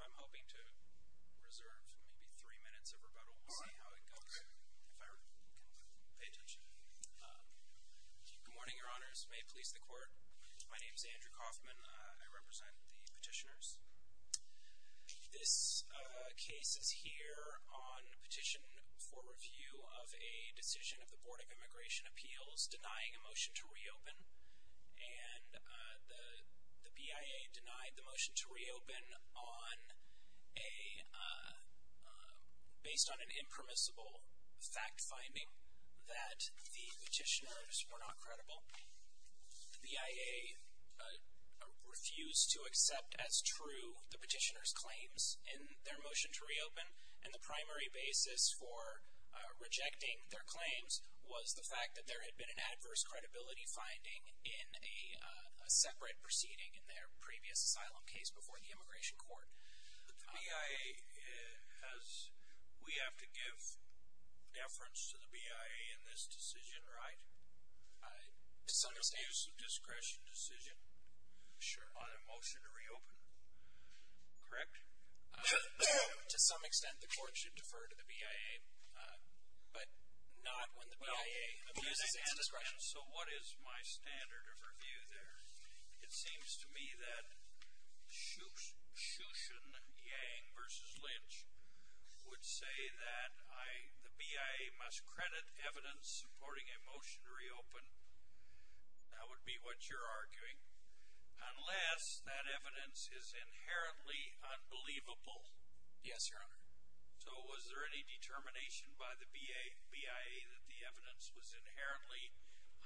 I'm hoping to reserve maybe three minutes of rebuttal. We'll see how it goes, if I can pay attention. Good morning, your honors. May it please the court. My name is Andrew Kaufman. I represent the petitioners. This case is here on petition for review of a decision of the Board of Immigration Appeals denying a motion to reopen. And the BIA denied the motion to reopen based on an impermissible fact finding that the petitioners were not credible. The BIA refused to accept as true the petitioners' claims in their motion to reopen. And the primary basis for rejecting their claims was the fact that there had been an adverse credibility finding in a separate proceeding in their previous asylum case before the immigration court. The BIA has – we have to give deference to the BIA in this decision, right? To some extent. It's an abuse of discretion decision on a motion to reopen, correct? To some extent, the court should defer to the BIA, but not when the BIA abuses its discretion. So what is my standard of review there? It seems to me that Shushan Yang v. Lynch would say that the BIA must credit evidence supporting a motion to reopen. That would be what you're arguing. Unless that evidence is inherently unbelievable. Yes, Your Honor. So was there any determination by the BIA that the evidence was inherently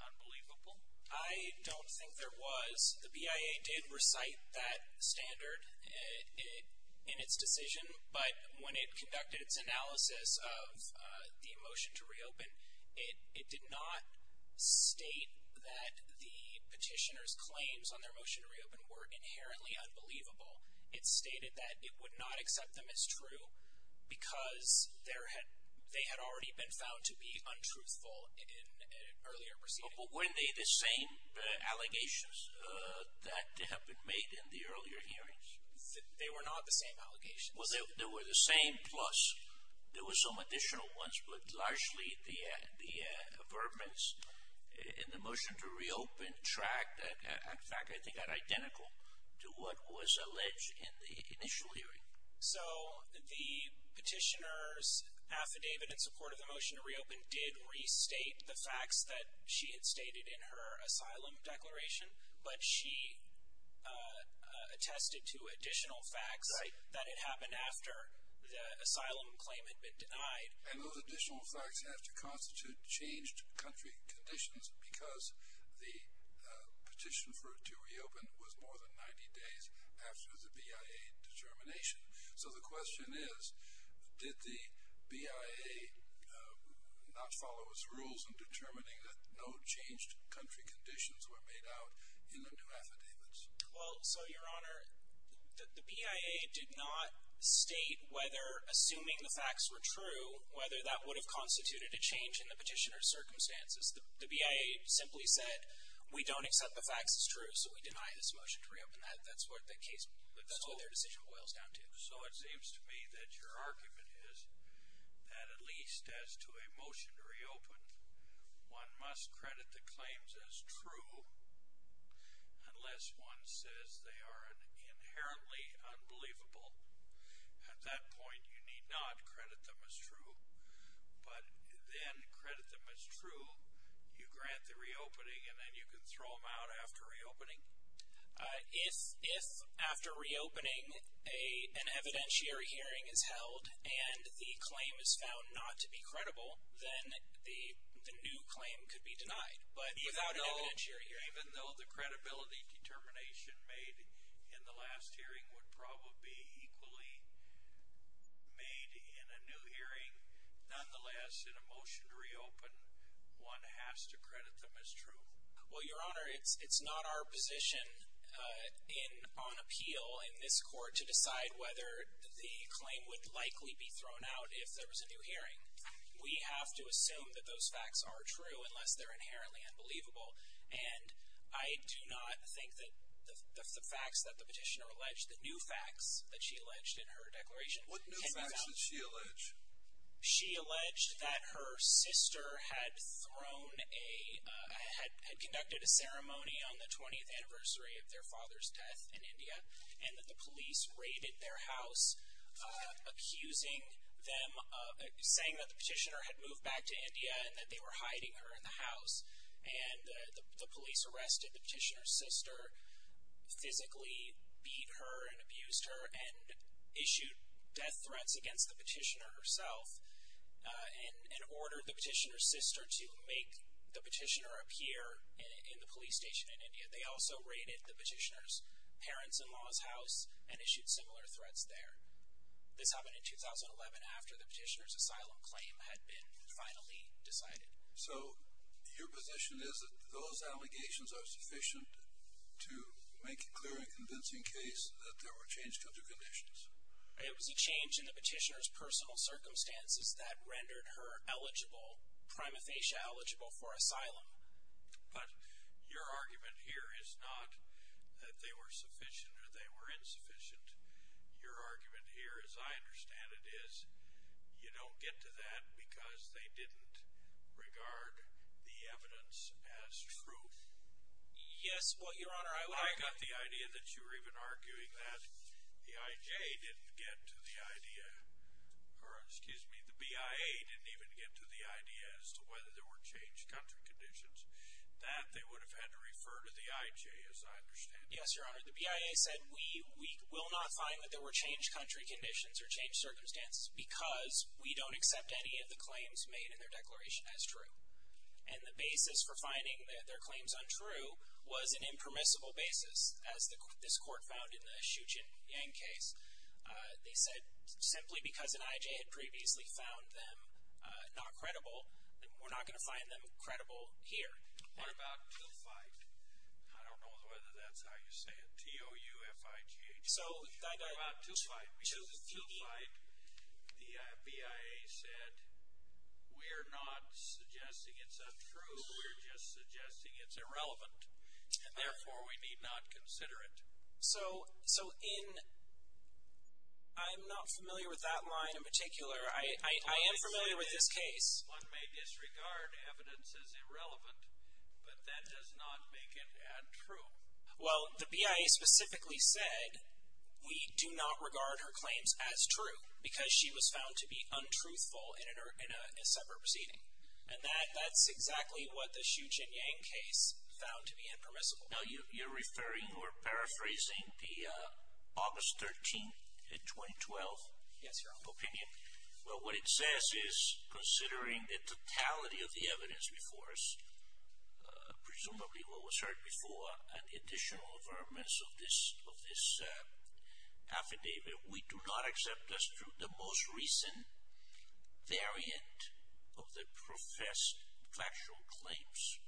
unbelievable? I don't think there was. The BIA did recite that standard in its decision. But when it conducted its analysis of the motion to reopen, it did not state that the petitioner's claims on their motion to reopen were inherently unbelievable. It stated that it would not accept them as true because they had already been found to be untruthful in an earlier proceeding. But weren't they the same allegations that have been made in the earlier hearings? They were not the same allegations. Well, they were the same, plus there were some additional ones. But largely, the affirmance in the motion to reopen tracked, in fact, I think identical to what was alleged in the initial hearing. So the petitioner's affidavit in support of the motion to reopen did restate the facts that she had stated in her asylum declaration. But she attested to additional facts that it happened after the asylum claim had been denied. And those additional facts have to constitute changed country conditions because the petition for it to reopen was more than 90 days after the BIA determination. So the question is, did the BIA not follow its rules in determining that no changed country conditions were made out in the new affidavits? Well, so, Your Honor, the BIA did not state whether, assuming the facts were true, whether that would have constituted a change in the petitioner's circumstances. The BIA simply said, we don't accept the facts as true, so we deny this motion to reopen. And that's what their decision boils down to. So it seems to me that your argument is that at least as to a motion to reopen, one must credit the claims as true unless one says they are inherently unbelievable. At that point, you need not credit them as true. But then credit them as true, you grant the reopening, and then you can throw them out after reopening? If, after reopening, an evidentiary hearing is held and the claim is found not to be credible, then the new claim could be denied. But even though the credibility determination made in the last hearing would probably be equally made in a new hearing, nonetheless, in a motion to reopen, one has to credit them as true. Well, Your Honor, it's not our position on appeal in this court to decide whether the claim would likely be thrown out if there was a new hearing. We have to assume that those facts are true unless they're inherently unbelievable. And I do not think that the facts that the petitioner alleged, the new facts that she alleged in her declaration, can be found true. What new facts did she allege? She alleged that her sister had thrown a, had conducted a ceremony on the 20th anniversary of their father's death in India, and that the police raided their house, accusing them, saying that the petitioner had moved back to India and that they were hiding her in the house. And the police arrested the petitioner's sister, physically beat her and abused her, and issued death threats against the petitioner herself, and ordered the petitioner's sister to make the petitioner appear in the police station in India. They also raided the petitioner's parents-in-law's house and issued similar threats there. This happened in 2011, after the petitioner's asylum claim had been finally decided. So, your position is that those allegations are sufficient to make a clear and convincing case that there were changed country conditions? It was a change in the petitioner's personal circumstances that rendered her eligible, primathecia eligible, for asylum. But your argument here is not that they were sufficient or they were insufficient. Your argument here, as I understand it, is you don't get to that because they didn't regard the evidence as true. Yes, well, Your Honor, I... I got the idea that you were even arguing that the I.J. didn't get to the idea, or excuse me, the B.I.A. didn't even get to the idea as to whether there were changed country conditions. That, they would have had to refer to the I.J., as I understand it. Yes, Your Honor. The B.I.A. said, we will not find that there were changed country conditions or changed circumstances because we don't accept any of the claims made in their declaration as true. And the basis for finding their claims untrue was an impermissible basis, as this court found in the Xiuqin Yang case. They said, simply because an I.J. had previously found them not credible, we're not going to find them credible here. What about Tufiq? I don't know whether that's how you say it, T-O-U-F-I-G-H. What about Tufiq? Because Tufiq, the B.I.A. said, we're not suggesting it's untrue, we're just suggesting it's irrelevant. Therefore, we need not consider it. So, in... I'm not familiar with that line in particular. I am familiar with this case. One may disregard evidence as irrelevant, but that does not make it untrue. Well, the B.I.A. specifically said, we do not regard her claims as true because she was found to be untruthful in a separate proceeding. And that's exactly what the Xiuqin Yang case found to be impermissible. Now, you're referring or paraphrasing the August 13, 2012 opinion? Yes, Your Honor. Well, what it says is, considering the totality of the evidence before us, presumably what was heard before, and the additional environments of this affidavit, we do not accept as true the most recent variant of the professed factual claims.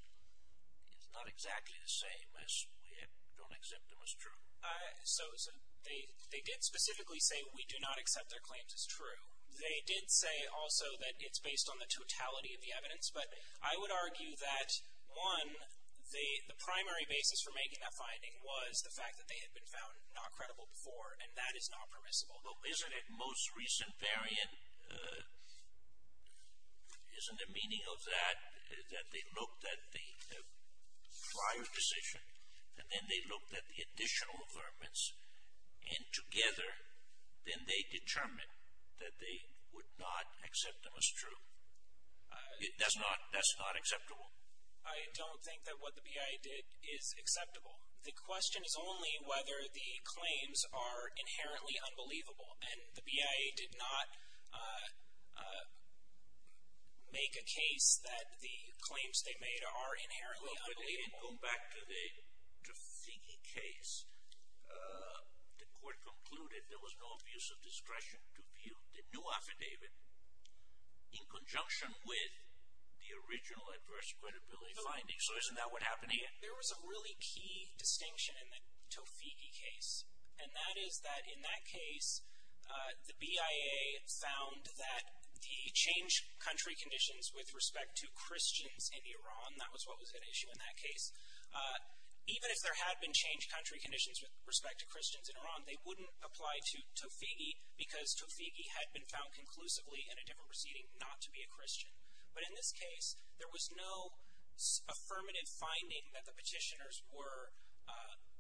It's not exactly the same as we don't accept them as true. So, they did specifically say, we do not accept their claims as true. They did say also that it's based on the totality of the evidence. But I would argue that, one, the primary basis for making that finding was the fact that they had been found not credible before. And that is not permissible. Although, isn't it most recent variant, isn't the meaning of that, that they looked at the prior decision, and then they looked at the additional environments, and together, then they determined that they would not accept them as true? That's not acceptable? I don't think that what the BIA did is acceptable. The question is only whether the claims are inherently unbelievable. And the BIA did not make a case that the claims they made are inherently unbelievable. Well, if we go back to the Figge case, the court concluded there was no abuse of discretion to view the new affidavit in conjunction with the original adverse credibility findings. So, isn't that what happened here? There was a really key distinction in the Tofighi case. And that is that, in that case, the BIA found that the changed country conditions with respect to Christians in Iran, that was what was at issue in that case. Even if there had been changed country conditions with respect to Christians in Iran, they wouldn't apply to Tofighi because Tofighi had been found conclusively in a different proceeding not to be a Christian. But in this case, there was no affirmative finding that the petitioners were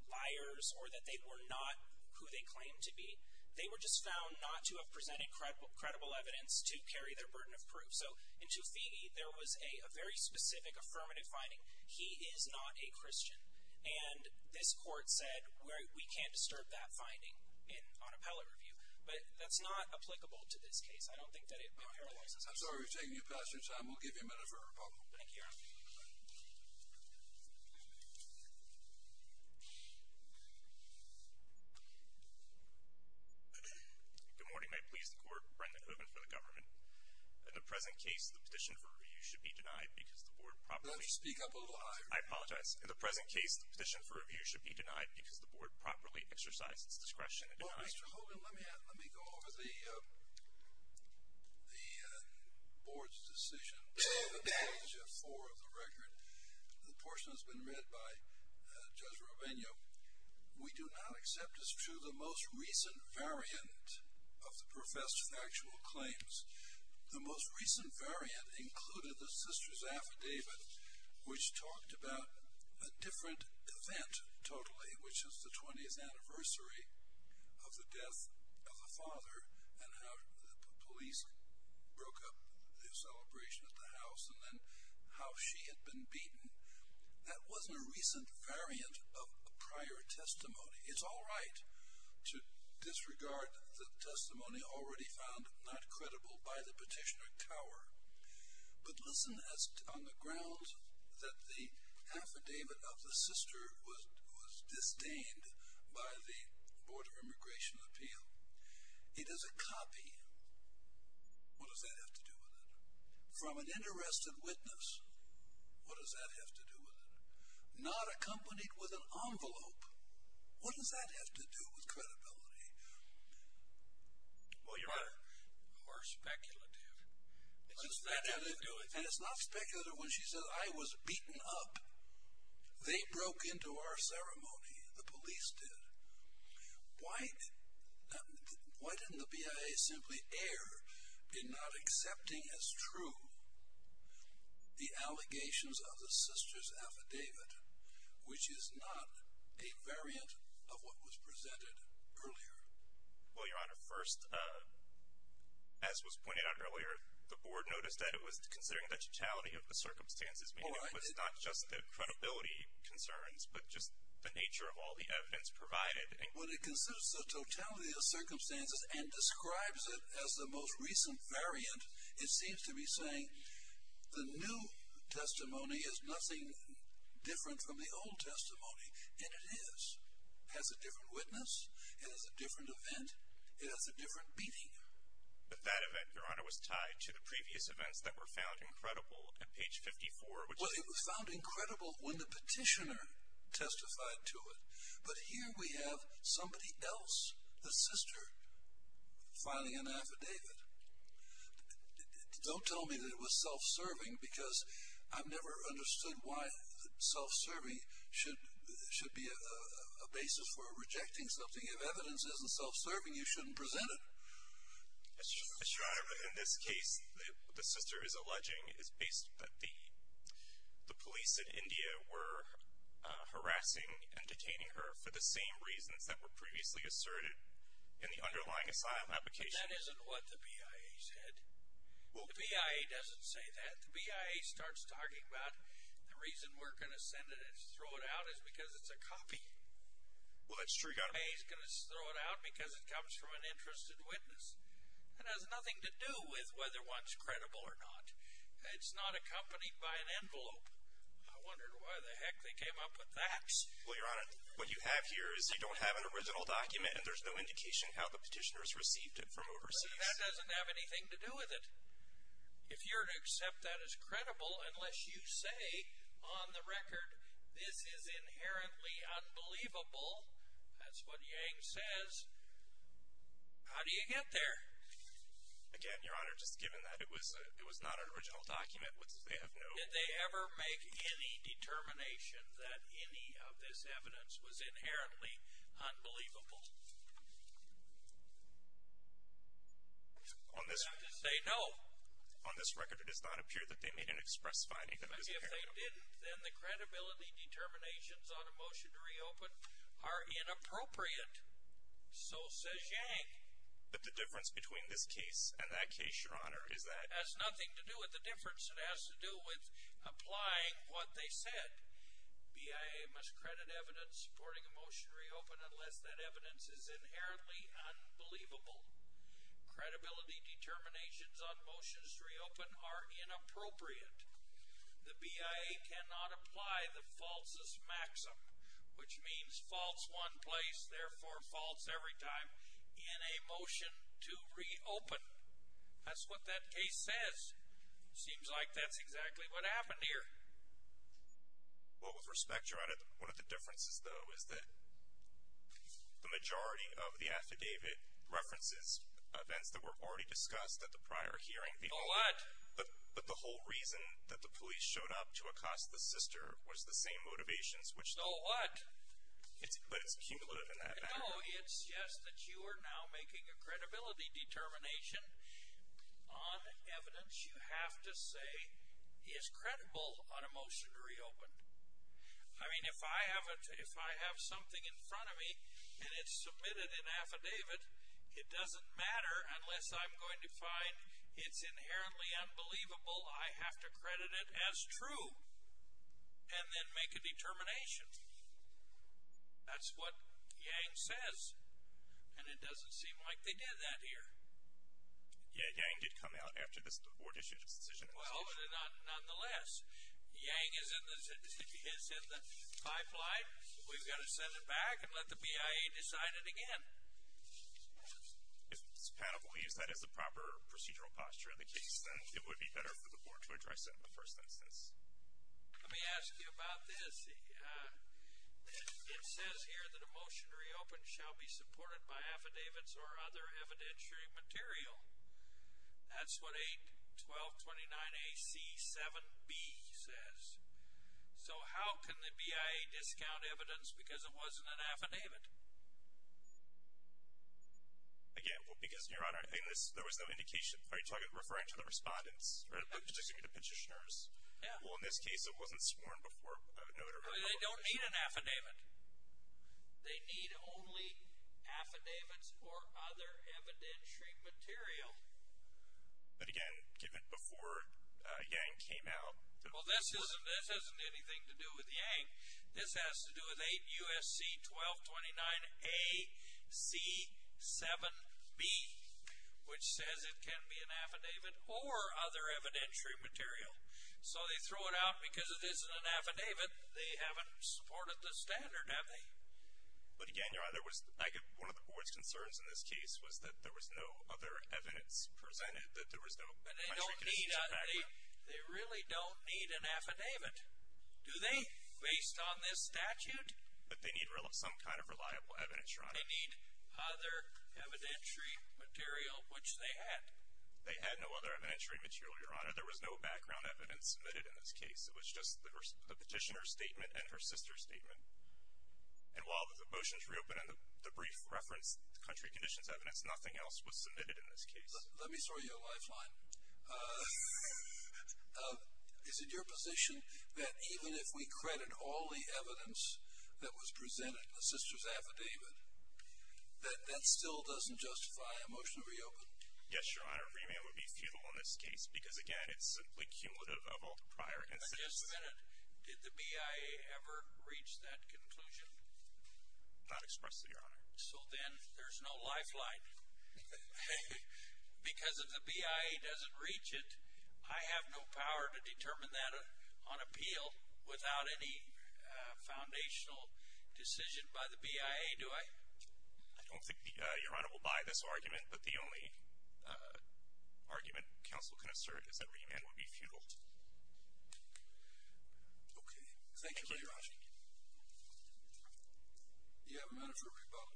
liars or that they were not who they claimed to be. They were just found not to have presented credible evidence to carry their burden of proof. So, in Tofighi, there was a very specific affirmative finding. He is not a Christian. And this court said, we can't disturb that finding on appellate review. But that's not applicable to this case. I don't think that it paralyzes it. I'm sorry we've taken you past your time. We'll give you a minute for a rebuttal. Thank you, Your Honor. Good morning, my pleas to the court. Brendan Hogan for the government. In the present case, the petition for review should be denied because the board properly exercised its discretion in denying it. Let her speak up a little higher. I apologize. In the present case, the petition for review should be denied because the board properly exercised its discretion in denying it. Mr. Hogan, let me go over the board's decision. Page four of the record. The portion that's been read by Judge Rubenio. We do not accept as true the most recent variant of the professor's actual claims. The most recent variant included the sister's affidavit, which talked about a different event totally, which was the 20th anniversary of the death of the father and how the police broke up the celebration at the house and then how she had been beaten. That wasn't a recent variant of a prior testimony. It's all right to disregard the testimony already found not credible by the petitioner Tower. But listen on the grounds that the affidavit of the sister was disdained by the Board of Immigration Appeal. It is a copy. What does that have to do with it? From an interested witness. What does that have to do with it? Not accompanied with an envelope. What does that have to do with credibility? Well, you're right. More speculative. And it's not speculative when she says, I was beaten up. They broke into our ceremony. The police did. Why didn't the BIA simply err in not accepting as true the allegations of the sister's affidavit, which is not a variant of what was presented earlier? Well, Your Honor, first, as was pointed out earlier, the board noticed that it was considering the totality of the circumstances, meaning it was not just the credibility concerns but just the nature of all the evidence provided. When it considers the totality of the circumstances and describes it as the most recent variant, it seems to be saying the new testimony is nothing different from the old testimony. And it is. It has a different witness. It has a different event. It has a different beating. But that event, Your Honor, was tied to the previous events that were found incredible at page 54. Well, it was found incredible when the petitioner testified to it. But here we have somebody else, the sister, filing an affidavit. Don't tell me that it was self-serving because I've never understood why self-serving should be a basis for rejecting something. If evidence isn't self-serving, you shouldn't present it. Yes, Your Honor, but in this case, the sister is alleging that the police in India were harassing and detaining her for the same reasons that were previously asserted in the underlying asylum application. That isn't what the BIA said. The BIA doesn't say that. The BIA starts talking about the reason we're going to send it and throw it out is because it's a copy. Well, that's true. He's going to throw it out because it comes from an interested witness. It has nothing to do with whether one's credible or not. It's not accompanied by an envelope. I wondered why the heck they came up with that. Well, Your Honor, what you have here is you don't have an original document, and there's no indication how the petitioner has received it from overseas. But that doesn't have anything to do with it. If you're to accept that as credible, unless you say on the record, this is inherently unbelievable, that's what Yang says, how do you get there? Again, Your Honor, just given that it was not an original document, what does they have to know? Did they ever make any determination that any of this evidence was inherently unbelievable? They have to say no. On this record, it does not appear that they made an express finding that it was inherently unbelievable. If they didn't, then the credibility determinations on a motion to reopen are inappropriate. So says Yang. But the difference between this case and that case, Your Honor, is that it has nothing to do with the difference. It has to do with applying what they said. BIA must credit evidence supporting a motion to reopen unless that evidence is inherently unbelievable. Credibility determinations on motions to reopen are inappropriate. The BIA cannot apply the falsus maxim, which means false one place, therefore false every time, in a motion to reopen. That's what that case says. Seems like that's exactly what happened here. Well, with respect, Your Honor, one of the differences, though, is that the majority of the affidavit references events that were already discussed at the prior hearing. So what? But the whole reason that the police showed up to accost the sister was the same motivations, which- So what? But it's cumulative in that affidavit. No, it's just that you are now making a credibility determination on evidence you have to say is credible on a motion to reopen. I mean, if I have something in front of me and it's submitted in affidavit, it doesn't matter unless I'm going to find it's inherently unbelievable. I have to credit it as true and then make a determination. That's what Yang says, and it doesn't seem like they did that here. Yeah, Yang did come out after this board issued its decision. Well, nonetheless, Yang is in the pipeline. We've got to send it back and let the BIA decide it again. If it's palatable, use that as the proper procedural posture of the case, then it would be better for the board to address that in the first instance. Let me ask you about this. It says here that a motion to reopen shall be supported by affidavits or other evidentiary material. That's what 8-1229AC-7B says. So how can the BIA discount evidence because it wasn't an affidavit? Again, because, Your Honor, I think there was no indication. Are you referring to the respondents? I'm talking to petitioners. Well, in this case, it wasn't sworn before a notary public. They don't need an affidavit. They need only affidavits or other evidentiary material. But, again, given before Yang came out. Well, this isn't anything to do with Yang. This has to do with 8-USC-1229AC-7B, which says it can be an affidavit or other evidentiary material. So they throw it out because it isn't an affidavit. They haven't supported the standard, have they? But, again, Your Honor, one of the board's concerns in this case was that there was no other evidence presented, that there was no... They really don't need an affidavit. Do they, based on this statute? But they need some kind of reliable evidence, Your Honor. They need other evidentiary material, which they had. They had no other evidentiary material, Your Honor. There was no background evidence submitted in this case. It was just the petitioner's statement and her sister's statement. And while the motions reopened and the brief referenced the country conditions evidence, nothing else was submitted in this case. Let me throw you a lifeline. Is it your position that even if we credit all the evidence that was presented in the sister's affidavit, that that still doesn't justify a motion to reopen? Yes, Your Honor. A remand would be futile in this case because, again, it's simply cumulative of all prior incidents. But just a minute. Did the BIA ever reach that conclusion? Not expressly, Your Honor. So then there's no lifeline. Because if the BIA doesn't reach it, I have no power to determine that on appeal without any foundational decision by the BIA, do I? I don't think, Your Honor, we'll buy this argument. But the only argument counsel can assert is that remand would be futile. Okay. Thank you. Thank you, Your Honor. Thank you. You have a minute for a rebuttal.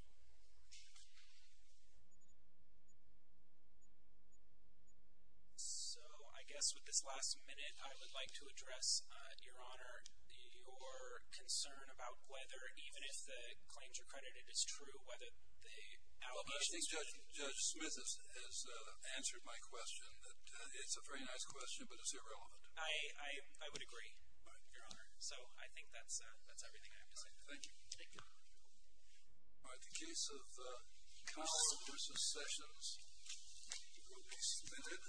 So I guess with this last minute, I would like to address, Your Honor, your concern about whether even if the claims are credited as true, whether they outweigh the circumstances. Well, I think Judge Smith has answered my question, that it's a very nice question, but it's irrelevant. I would agree, Your Honor. So I think that's everything I have to say. All right. Thank you. Thank you. All right. The case of Customer Successions will be submitted.